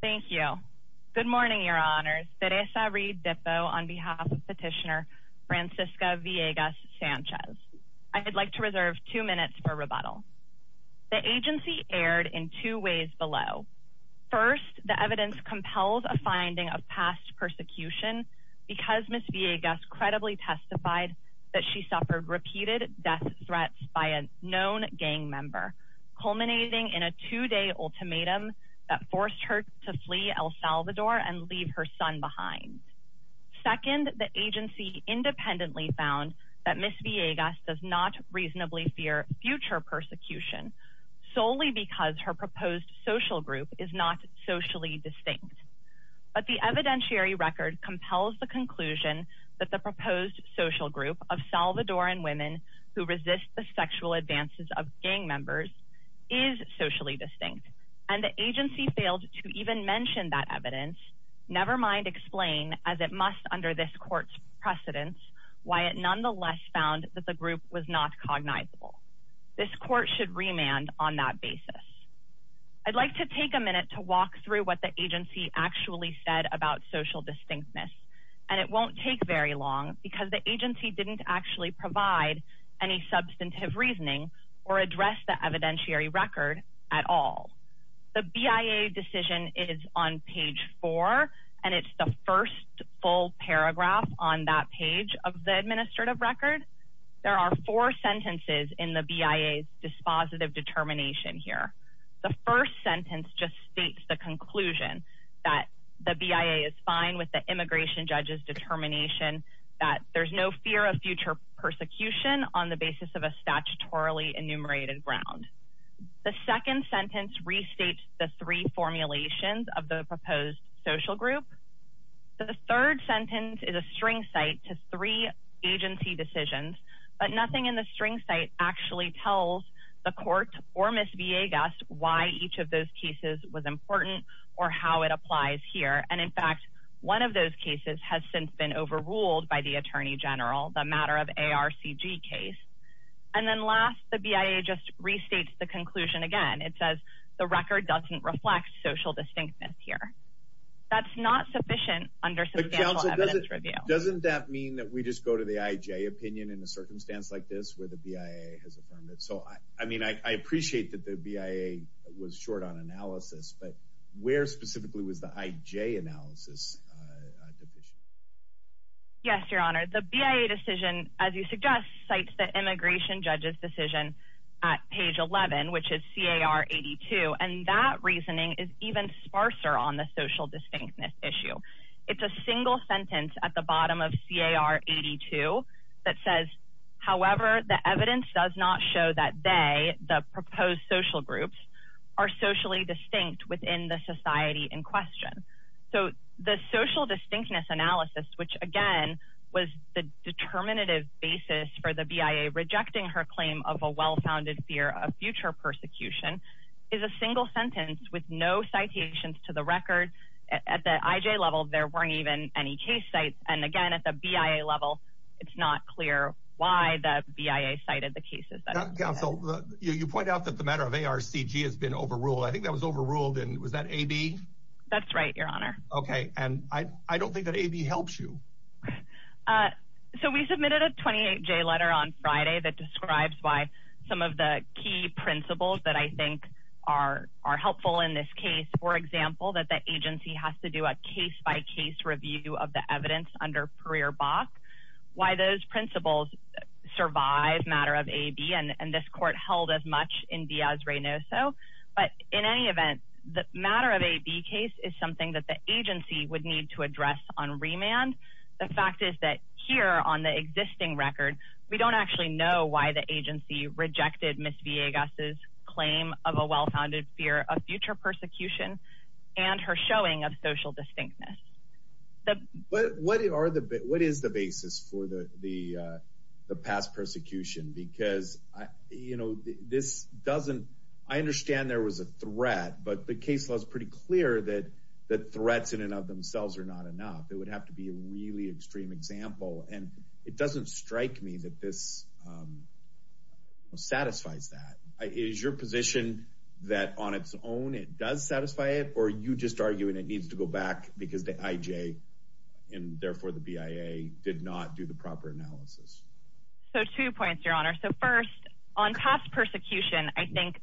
Thank you. Good morning, your honors. Teresa Reed-Dippo on behalf of petitioner Francisca Villegas Sanchez. I would like to reserve two minutes for rebuttal. The agency erred in two ways below. First, the evidence compels a finding of past persecution because Ms. Villegas credibly testified that she suffered repeated death threats by a known gang member, culminating in a two-day ultimatum that forced her to flee El Salvador and leave her son behind. Second, the agency independently found that Ms. Villegas does not reasonably fear future persecution solely because her proposed social group is not socially distinct. But the evidentiary record compels the conclusion that the proposed social group of Salvadoran women who resist the sexual advances of gang members is socially distinct, and the agency failed to even mention that evidence, never mind explain, as it must under this court's precedence, why it nonetheless found that the group was not cognizable. This court should remand on that basis. I'd like to take a minute to walk through what the agency actually said about social distinctness, and it won't take very long because the agency didn't actually provide any substantive reasoning or address the evidentiary record at all. The BIA decision is on page four and it's the first full paragraph on that page of the administrative record. There are four sentences in the BIA's dispositive determination here. The first sentence just states the conclusion that the BIA is fine with the immigration judge's determination that there's no fear of future persecution on the basis of a statutorily enumerated ground. The second sentence restates the three formulations of the proposed social group. The third sentence is a string site to three agency decisions, but nothing in the string site actually tells the court or Ms. Villegas why each of those cases was has since been overruled by the Attorney General, the matter of ARCG case. And then last, the BIA just restates the conclusion again. It says the record doesn't reflect social distinctness here. That's not sufficient under substantial evidence review. Doesn't that mean that we just go to the IJ opinion in a circumstance like this where the BIA has affirmed it? So, I mean, I appreciate that the BIA was short on analysis, but where specifically was the IJ analysis deficient? Yes, Your Honor. The BIA decision, as you suggest, cites the immigration judge's decision at page 11, which is CAR-82, and that reasoning is even sparser on the social distinctness issue. It's a single sentence at the bottom of CAR-82 that says, however, the evidence does not show that they, the proposed social groups, are socially distinct within the society in question. So, the social distinctness analysis, which again was the determinative basis for the BIA rejecting her claim of a well-founded fear of future persecution, is a single sentence with no citations to the record. At the IJ level, there weren't even any case sites. And again, at the BIA level, it's not clear why the BIA cited the cases. Counsel, you point out that the matter of ARCG has been overruled. I think that was overruled. And was that AB? That's right, Your Honor. Okay. And I don't think that AB helps you. So, we submitted a 28-J letter on Friday that describes why some of the key principles that I think are helpful in this case. For example, that the agency has to do a case-by-case review of the in Diaz-Reynoso. But in any event, the matter of AB case is something that the agency would need to address on remand. The fact is that here on the existing record, we don't actually know why the agency rejected Ms. Villegas' claim of a well-founded fear of future persecution and her showing of social distinctness. What is the basis for the past persecution? Because this doesn't... I understand there was a threat, but the case was pretty clear that threats in and of themselves are not enough. It would have to be a really extreme example. And it doesn't strike me that this satisfies that. Is your position that on its own, it does satisfy it? Or are you just arguing it needs to go back because the IJ, and therefore the BIA, did not do the proper analysis? Two points, Your Honor. First, on past persecution, I think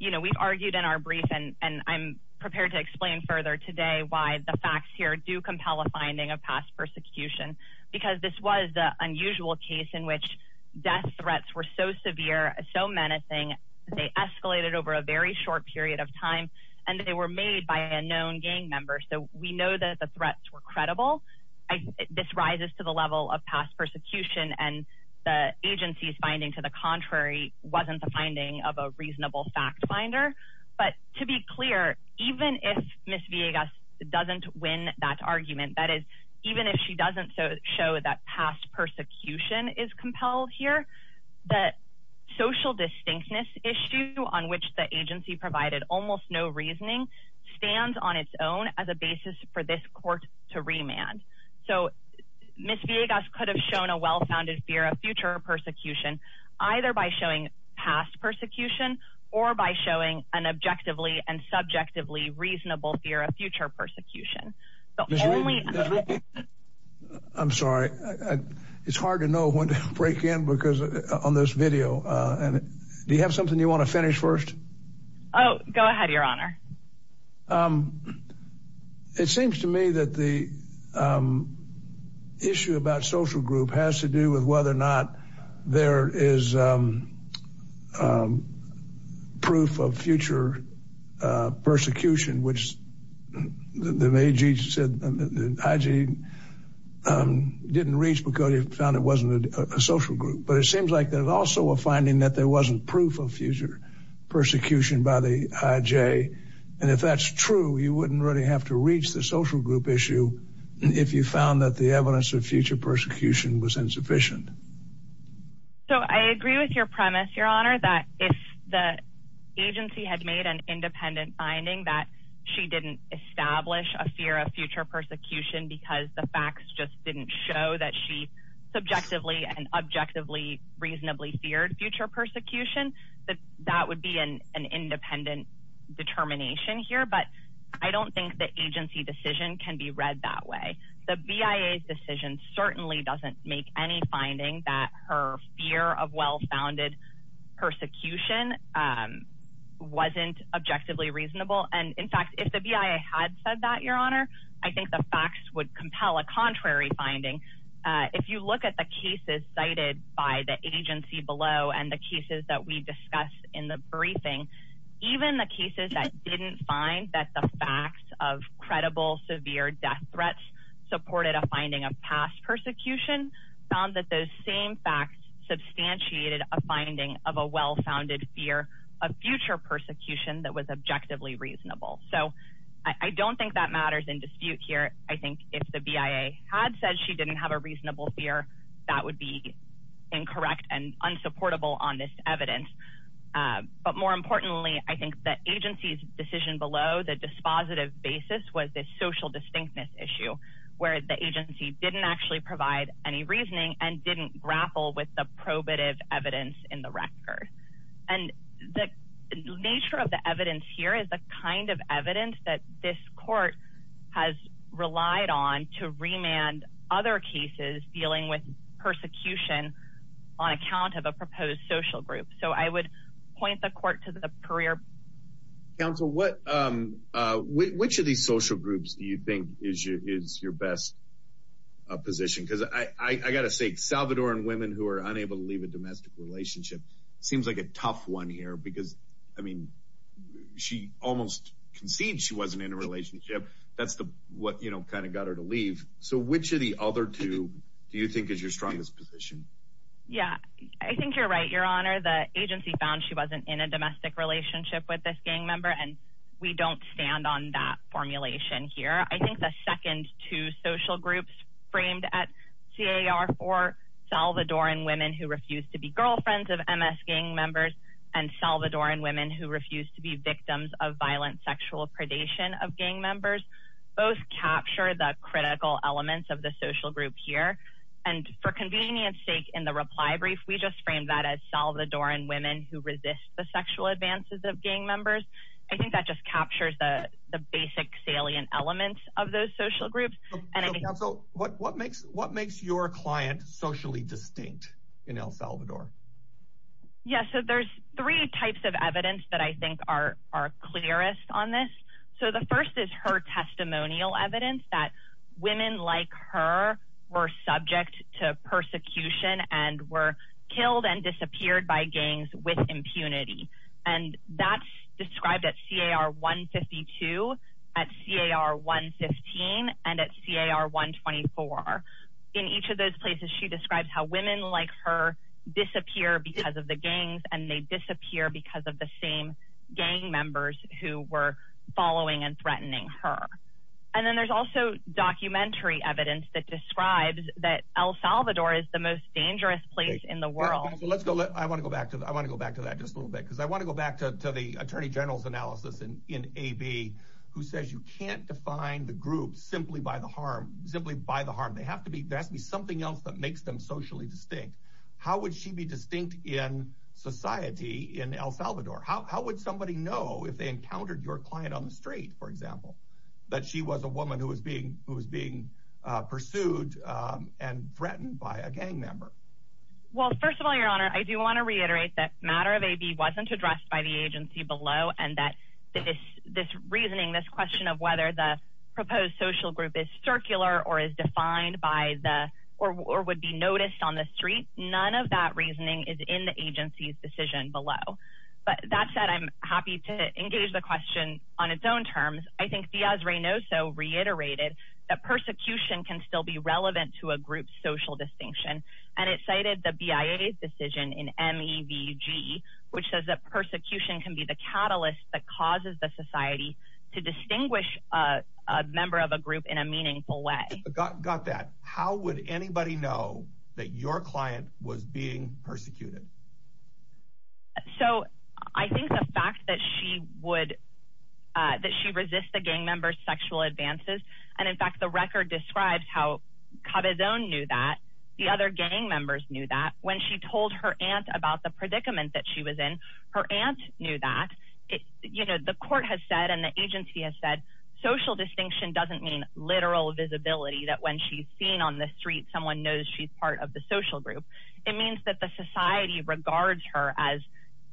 we've argued in our brief, and I'm prepared to explain further today why the facts here do compel a finding of past persecution. Because this was the unusual case in which death threats were so severe, so menacing, they escalated over a very short period of time, and they were made by a known gang member. We know that the threats were credible. This rises to the level of past persecution, and the agency's finding to the contrary wasn't the finding of a reasonable fact finder. But to be clear, even if Ms. Villegas doesn't win that argument, that is, even if she doesn't show that past persecution is compelled here, the social distinctness issue on which the agency provided almost no reasoning stands on its own as a basis for this court to remand. So Ms. Villegas could have shown a well-founded fear of future persecution, either by showing past persecution, or by showing an objectively and subjectively reasonable fear of future persecution. The only- Ms. Reed, I'm sorry. It's hard to know when to break in because on this video, do you have something you want to finish first? Oh, go ahead, Your Honor. It seems to me that the issue about social group has to do with whether or not there is proof of future persecution, which the AG said, the IG didn't reach because he found it wasn't a social group. But it seems like there's also a finding that there wasn't proof of future persecution by the IG. And if that's true, you wouldn't really have to reach the social group issue if you found that the evidence of future persecution was insufficient. So I agree with your premise, Your Honor, that if the agency had made an independent finding that she didn't establish a fear of future persecution because the facts just didn't show that she objectively and reasonably feared future persecution, that that would be an independent determination here. But I don't think the agency decision can be read that way. The BIA's decision certainly doesn't make any finding that her fear of well-founded persecution wasn't objectively reasonable. And in fact, if the BIA had said that, Your Honor, I think the facts would compel a contrary finding. If you look at the cases cited by the agency below and the cases that we discussed in the briefing, even the cases that didn't find that the facts of credible severe death threats supported a finding of past persecution found that those same facts substantiated a finding of a well-founded fear of future persecution that was objectively reasonable. So I don't think that matters in dispute here. I think if the BIA had said she didn't have a reasonable fear, that would be incorrect and unsupportable on this evidence. But more importantly, I think the agency's decision below the dispositive basis was this social distinctness issue where the agency didn't actually provide any reasoning and didn't grapple with the probative evidence in the record. And the nature of the evidence here is the kind of evidence that this court has relied on to remand other cases dealing with persecution on account of a proposed social group. So I would point the court to the career. Counsel, which of these social groups do you think is your best position? Because I got to take Salvador and women who are unable to leave a domestic relationship. Seems like a tough one here because, I mean, she almost conceded she wasn't in a relationship. That's what, you know, kind of got her to leave. So which of the other two do you think is your strongest position? Yeah, I think you're right, Your Honor. The agency found she wasn't in a domestic relationship with this gang member, and we don't stand on that formulation here. I think the second two social groups framed at CAR for Salvador and women who refuse to be girlfriends of MS gang members and Salvador and women who refuse to be victims of violent sexual predation of gang members both capture the critical elements of the social group here. And for convenience sake in the reply brief, we just framed that as Salvador and women who resist the sexual advances of gang members. I think that just captures the basic salient elements of those social groups. So what makes your client socially distinct in El Salvador? Yeah, so there's three types of evidence that I think are clearest on this. So the first is her testimonial evidence that women like her were subject to persecution and were killed and CAR 124. In each of those places, she describes how women like her disappear because of the gangs and they disappear because of the same gang members who were following and threatening her. And then there's also documentary evidence that describes that El Salvador is the most dangerous place in the world. Let's go. I want to go back to that. I want to go back to that just a little bit because I want to go back to the attorney general's analysis in AB who says you can't define the group simply by the harm, simply by the harm. They have to be something else that makes them socially distinct. How would she be distinct in society in El Salvador? How would somebody know if they encountered your client on the street, for example, that she was a woman who was being who was being pursued and threatened by a gang member? Well, first of all, your honor, I do want to reiterate that matter of AB wasn't addressed by the agency below and that this reasoning, this question of whether the proposed social group is circular or is defined by the or would be noticed on the street, none of that reasoning is in the agency's decision below. But that said, I'm happy to engage the question on its own terms. I think Diaz-Reynoso reiterated that persecution can still be relevant to a group's social distinction and it cited the BIA's in MEVG which says that persecution can be the catalyst that causes the society to distinguish a member of a group in a meaningful way. Got that. How would anybody know that your client was being persecuted? So I think the fact that she would, that she resists the gang member's sexual advances and in fact the record describes how Cabezon knew that, the other gang members knew that when she told her aunt about the predicament that she was in, her aunt knew that. You know, the court has said and the agency has said social distinction doesn't mean literal visibility that when she's seen on the street, someone knows she's part of the social group. It means that the society regards her as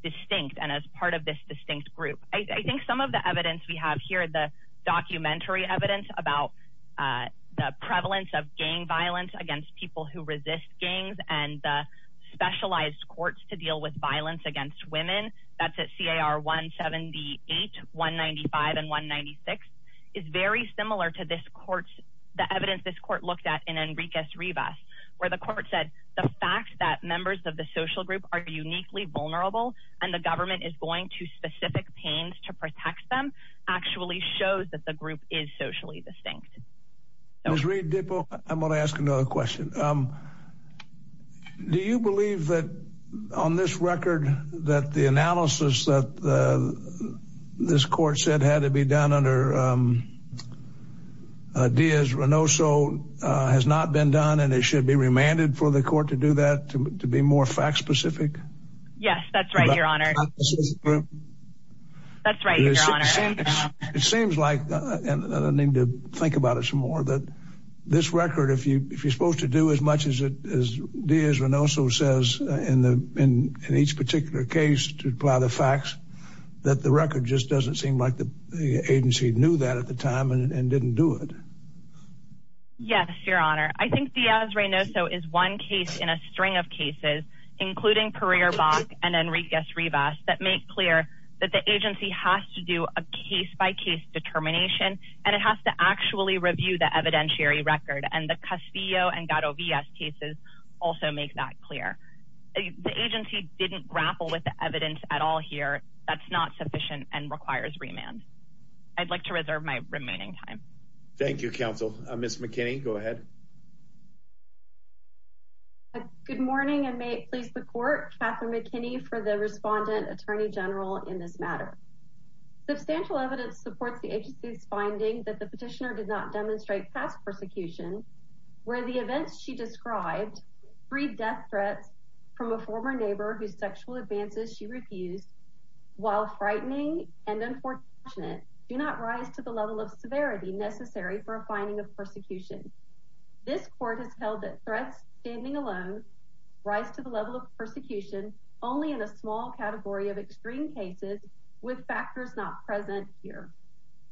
distinct and as part of this distinct group. I think some of the evidence we have here, the documentary evidence about the prevalence of gang violence against people who specialized courts to deal with violence against women, that's at CAR 178, 195 and 196, is very similar to this court's, the evidence this court looked at in Enriquez-Rivas where the court said the fact that members of the social group are uniquely vulnerable and the government is going to specific pains to protect them actually shows that the group is socially distinct. Ms. Reid-Dippo, I'm going to ask another question. Do you believe that on this record that the analysis that this court said had to be done under Diaz-Renoso has not been done and it should be remanded for the court to do that, to be more fact-specific? Yes, that's right, your honor. That's right, your honor. It seems like, and I need to think about it some more, that this record, if you're supposed to do as much as Diaz-Renoso says in each particular case to apply the facts, that the record just doesn't seem like the agency knew that at the time and didn't do it. Yes, your honor. I think Diaz-Renoso is one case in a string of cases, including Pereira-Bach and Enriquez-Rivas, that make clear that the agency has to do a case-by-case determination and it has to actually review the evidentiary record and the Castillo and Garo Villas cases also make that clear. The agency didn't grapple with the evidence at all here that's not sufficient and requires remand. I'd like to reserve my remaining time. Thank you, counsel. Ms. McKinney, go ahead. Good morning and may it please the court, Katherine McKinney for the respondent attorney general in this matter. Substantial evidence supports the agency's finding that the petitioner did not demonstrate past persecution where the events she described freed death threats from a former neighbor whose sexual advances she refused while frightening and unfortunate do not rise to the level of severity necessary for a finding of persecution. This court has held that threats standing alone rise to the level of persecution only in a small category of extreme cases with factors not present here.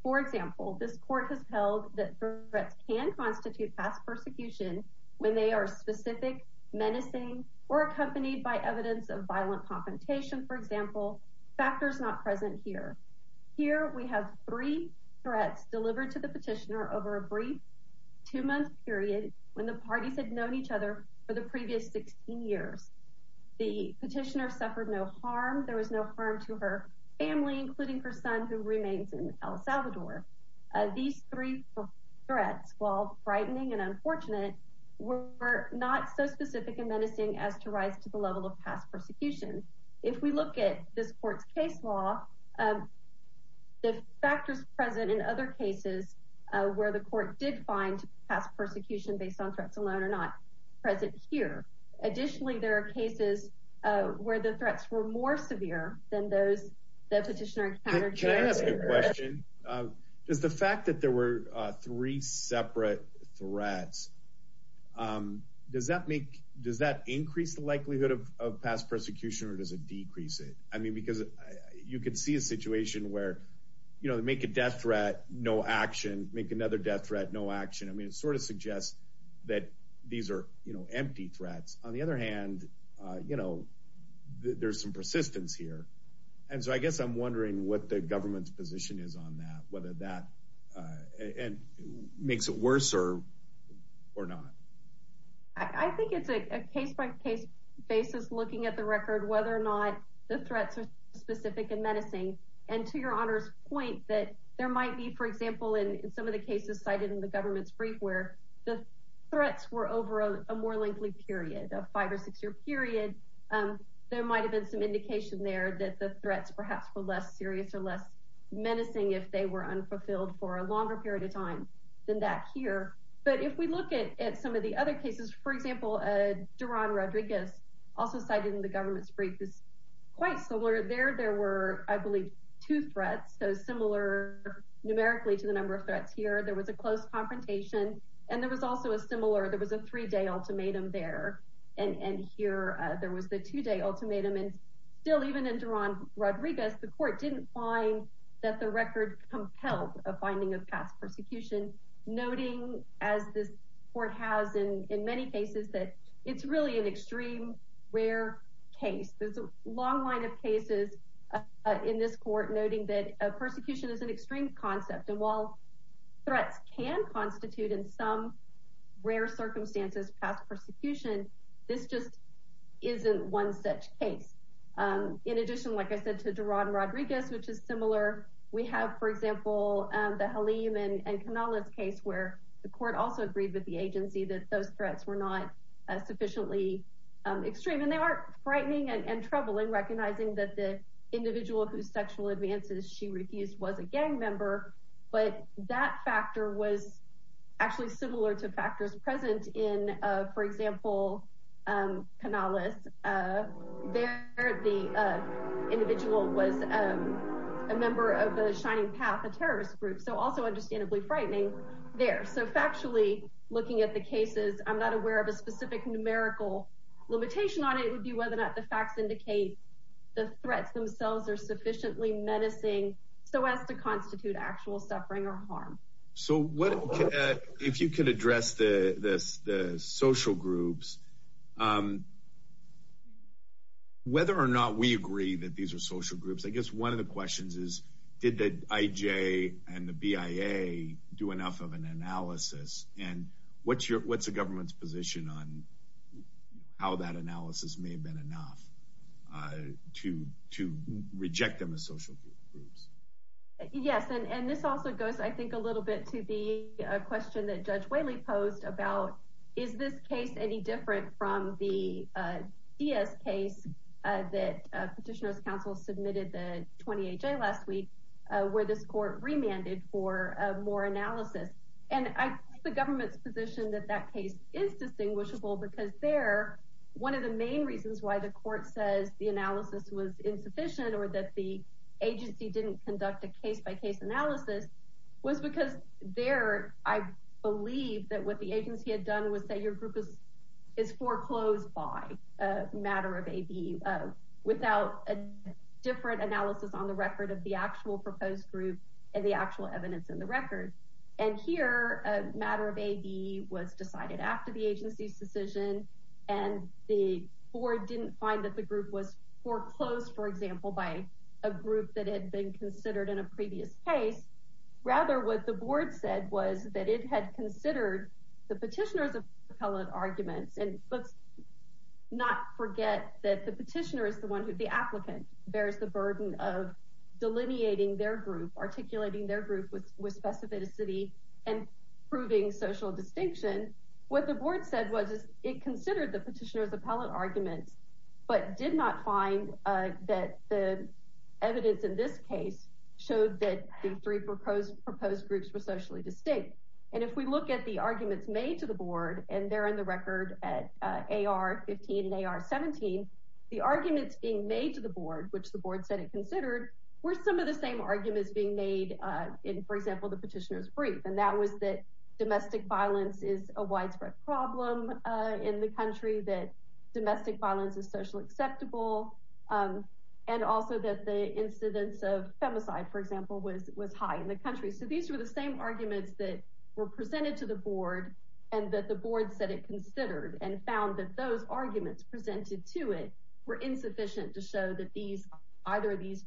For example, this court has held that threats can constitute past persecution when they are specific menacing or accompanied by evidence of violent confrontation for example factors not present here. Here we have three threats delivered to the petitioner over a brief two-month period when the parties had known each other for the previous 16 years. The petitioner suffered no harm there was no harm to her family including her son who remains in El Salvador. These three threats while frightening and unfortunate were not so specific and menacing as to rise to the level of past persecution. If we look at this court's case law the factors present in other cases where the court did find past persecution based on threats alone are not present here. Additionally there are cases where the threats were more severe than those the petitioner encountered. Can I ask a question? Does the fact that there were three separate threats, does that make does that increase the likelihood of past persecution or does it decrease it? I mean because you could see a situation where you know they make a death threat no action make another death threat no action. I there's some persistence here and so I guess I'm wondering what the government's position is on that whether that and makes it worse or or not. I think it's a case-by-case basis looking at the record whether or not the threats are specific and menacing and to your honor's point that there might be for example in some of the cases cited in the government's brief where the threats were over a more lengthy period a five or six year period there might have been some indication there that the threats perhaps were less serious or less menacing if they were unfulfilled for a longer period of time than that here. But if we look at at some of the other cases for example Daron Rodriguez also cited in the government's brief is quite similar there there were I believe two threats so similar numerically to the number of threats here there was a close confrontation and there was also a similar there was a three-day ultimatum there and and here there was the two-day ultimatum and still even in Daron Rodriguez the court didn't find that the record compelled a finding of past persecution noting as this court has in in many cases that it's really an extreme rare case there's a long line of cases in this court noting that a persecution is an extreme concept and while threats can constitute in some rare circumstances past persecution this just isn't one such case. In addition like I said to Daron Rodriguez which is similar we have for example the Halim and Canales case where the court also agreed with the agency that those threats were not sufficiently extreme and they are frightening and troubling recognizing that the individual whose sexual advances she refused was a gang member but that factor was actually similar to factors present in for example Canales there the individual was a member of the Shining Path a terrorist group so also understandably frightening there so factually looking at the cases I'm not aware of a specific numerical limitation on it would be whether or not the facts indicate the threats themselves are sufficiently menacing so as to constitute actual suffering or harm. So what if you could address the the social groups whether or not we agree that these are social groups I guess one of the questions is did the IJ and the BIA do enough of an analysis and what's your what's the government's on how that analysis may have been enough to to reject them as social groups? Yes and this also goes I think a little bit to the question that Judge Whaley posed about is this case any different from the DS case that Petitioners Council submitted the 20HA last week where this court remanded for more analysis and I think the government's position that that case is distinguishable because there one of the main reasons why the court says the analysis was insufficient or that the agency didn't conduct a case-by-case analysis was because there I believe that what the agency had done was say your group is foreclosed by a matter of AB without a different analysis on the record of the actual proposed group and the actual evidence in the record and here a matter of AB was decided after the agency's decision and the board didn't find that the group was foreclosed for example by a group that had been considered in a previous case rather what the board said was that it had considered the petitioners of propellant arguments and let's not forget that the petitioner is the one who the applicant bears the burden of delineating their group articulating their group with specificity and proving social distinction what the board said was it considered the petitioners appellate arguments but did not find that the evidence in this case showed that the three proposed proposed groups were socially distinct and if we look at the arguments made to the board and they're in the record at AR 15 and AR 17 the arguments being made to the board which the board said it considered were some of the same arguments being made in for example the petitioner's brief and that was that domestic violence is a widespread problem in the country that domestic violence is socially acceptable and also that the incidence of femicide for example was was high in the country so these were the same arguments that were presented to the board and that the board said it considered and found that those arguments presented to it were insufficient to show that these either these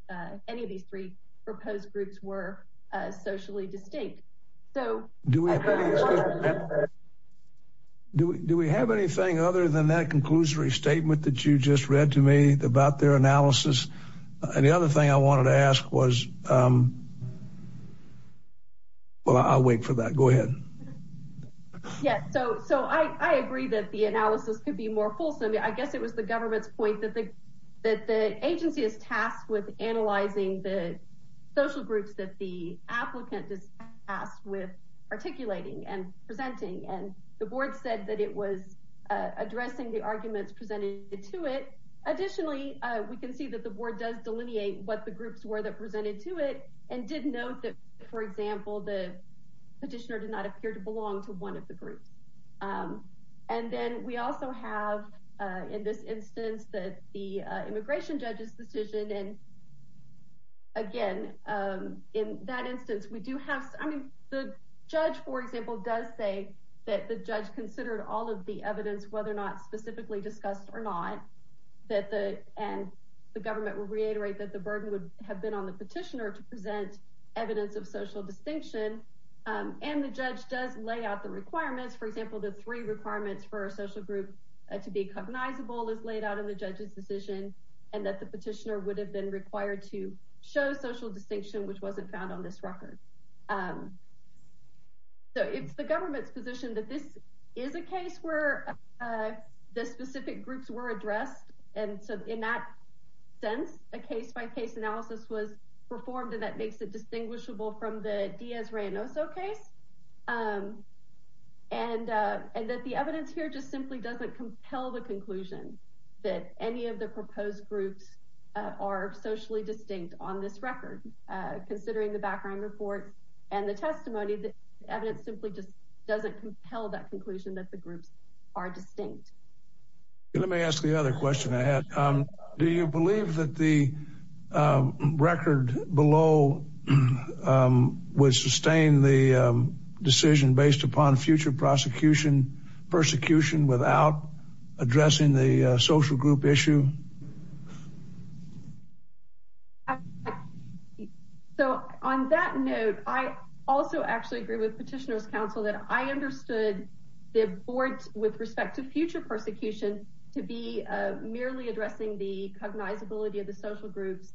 any of these three proposed groups were socially distinct so do we do we have anything other than that conclusory statement that you just read to me about their analysis and the other thing I wanted to ask was well I'll wait for that go ahead yes so so I agree that the analysis could be more fulsome I guess it was the government's point that the that the agency is tasked with analyzing the social groups that the applicant is tasked with articulating and presenting and the board said that it was addressing the arguments presented to it additionally we can see that the board does presented to it and did note that for example the petitioner did not appear to belong to one of the groups and then we also have in this instance that the immigration judge's decision and again in that instance we do have I mean the judge for example does say that the judge considered all of the evidence whether or not specifically discussed or not that the and the petitioner to present evidence of social distinction and the judge does lay out the requirements for example the three requirements for a social group to be cognizable is laid out in the judge's decision and that the petitioner would have been required to show social distinction which wasn't found on this record so it's the government's position that this is a case where the specific groups were addressed and so in that sense a case-by-case analysis was performed and that makes it distinguishable from the Diaz-Reynoso case and that the evidence here just simply doesn't compel the conclusion that any of the proposed groups are socially distinct on this record considering the background reports and the testimony that evidence simply doesn't compel that conclusion that the groups are distinct. Let me ask the other question I had do you believe that the record below would sustain the decision based upon future prosecution persecution without addressing the social group issue? So on that note I also actually agree with petitioner's counsel that I understood the board's with respect to future persecution to be merely addressing the cognizability of the social groups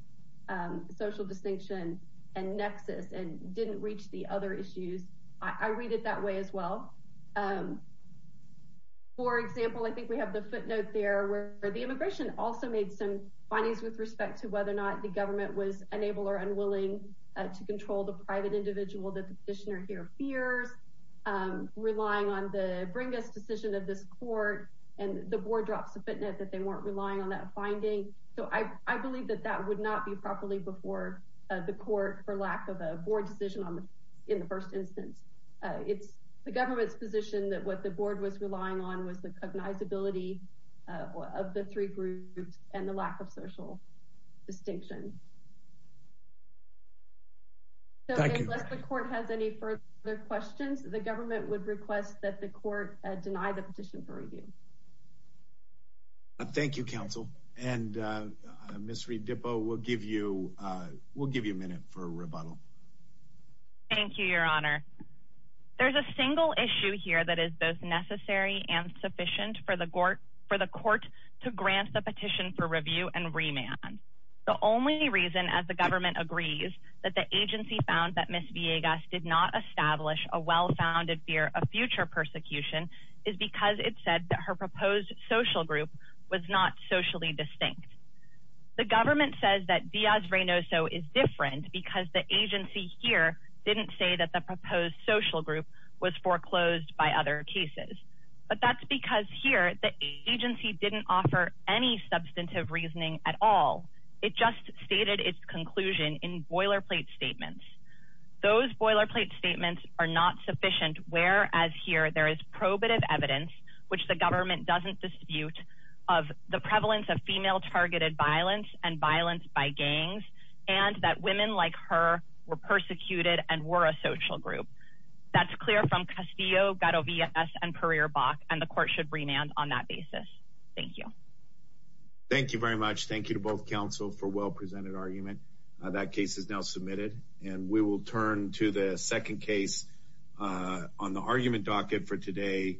social distinction and nexus and didn't reach the other issues I read it that way as well for example I think we have the footnote there where the immigration also may be a some findings with respect to whether or not the government was unable or unwilling to control the private individual that the petitioner here fears relying on the bring us decision of this court and the board drops the footnote that they weren't relying on that finding so I believe that that would not be properly before the court for lack of a board decision on the in the first instance it's the government's position that what the board was relying on was the cognizability of the three groups and the lack of social distinction so unless the court has any further questions the government would request that the court deny the petition for review. Thank you counsel and Ms. Redippo we'll give you we'll give you a minute for a rebuttal. Thank you your honor there's a single issue here that is both necessary and sufficient for the court for the court to grant the petition for review and remand the only reason as the government agrees that the agency found that Ms. Villegas did not establish a well-founded fear of future persecution is because it said that her proposed social group was not socially distinct the government says that Diaz-Reynoso is different because the agency here didn't say that the proposed social group was foreclosed by other cases but that's because here the agency didn't offer any substantive reasoning at all it just stated its conclusion in boilerplate statements those boilerplate statements are not sufficient whereas here there is probative evidence which the government doesn't dispute of the prevalence of female targeted violence and violence by gangs and that women like her were persecuted and were a social group that's clear from Castillo, Gadovias, and Pereira-Bach and the court should remand on that basis. Thank you. Thank you very much thank you to both counsel for well presented argument that case is now submitted and we will turn to the second case on the argument docket for today.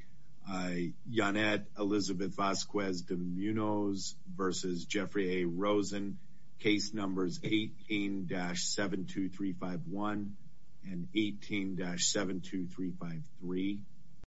Yanet Elizabeth Vasquez de Munoz versus Jeffrey A. Rosen case numbers 18-72351 and 18-72353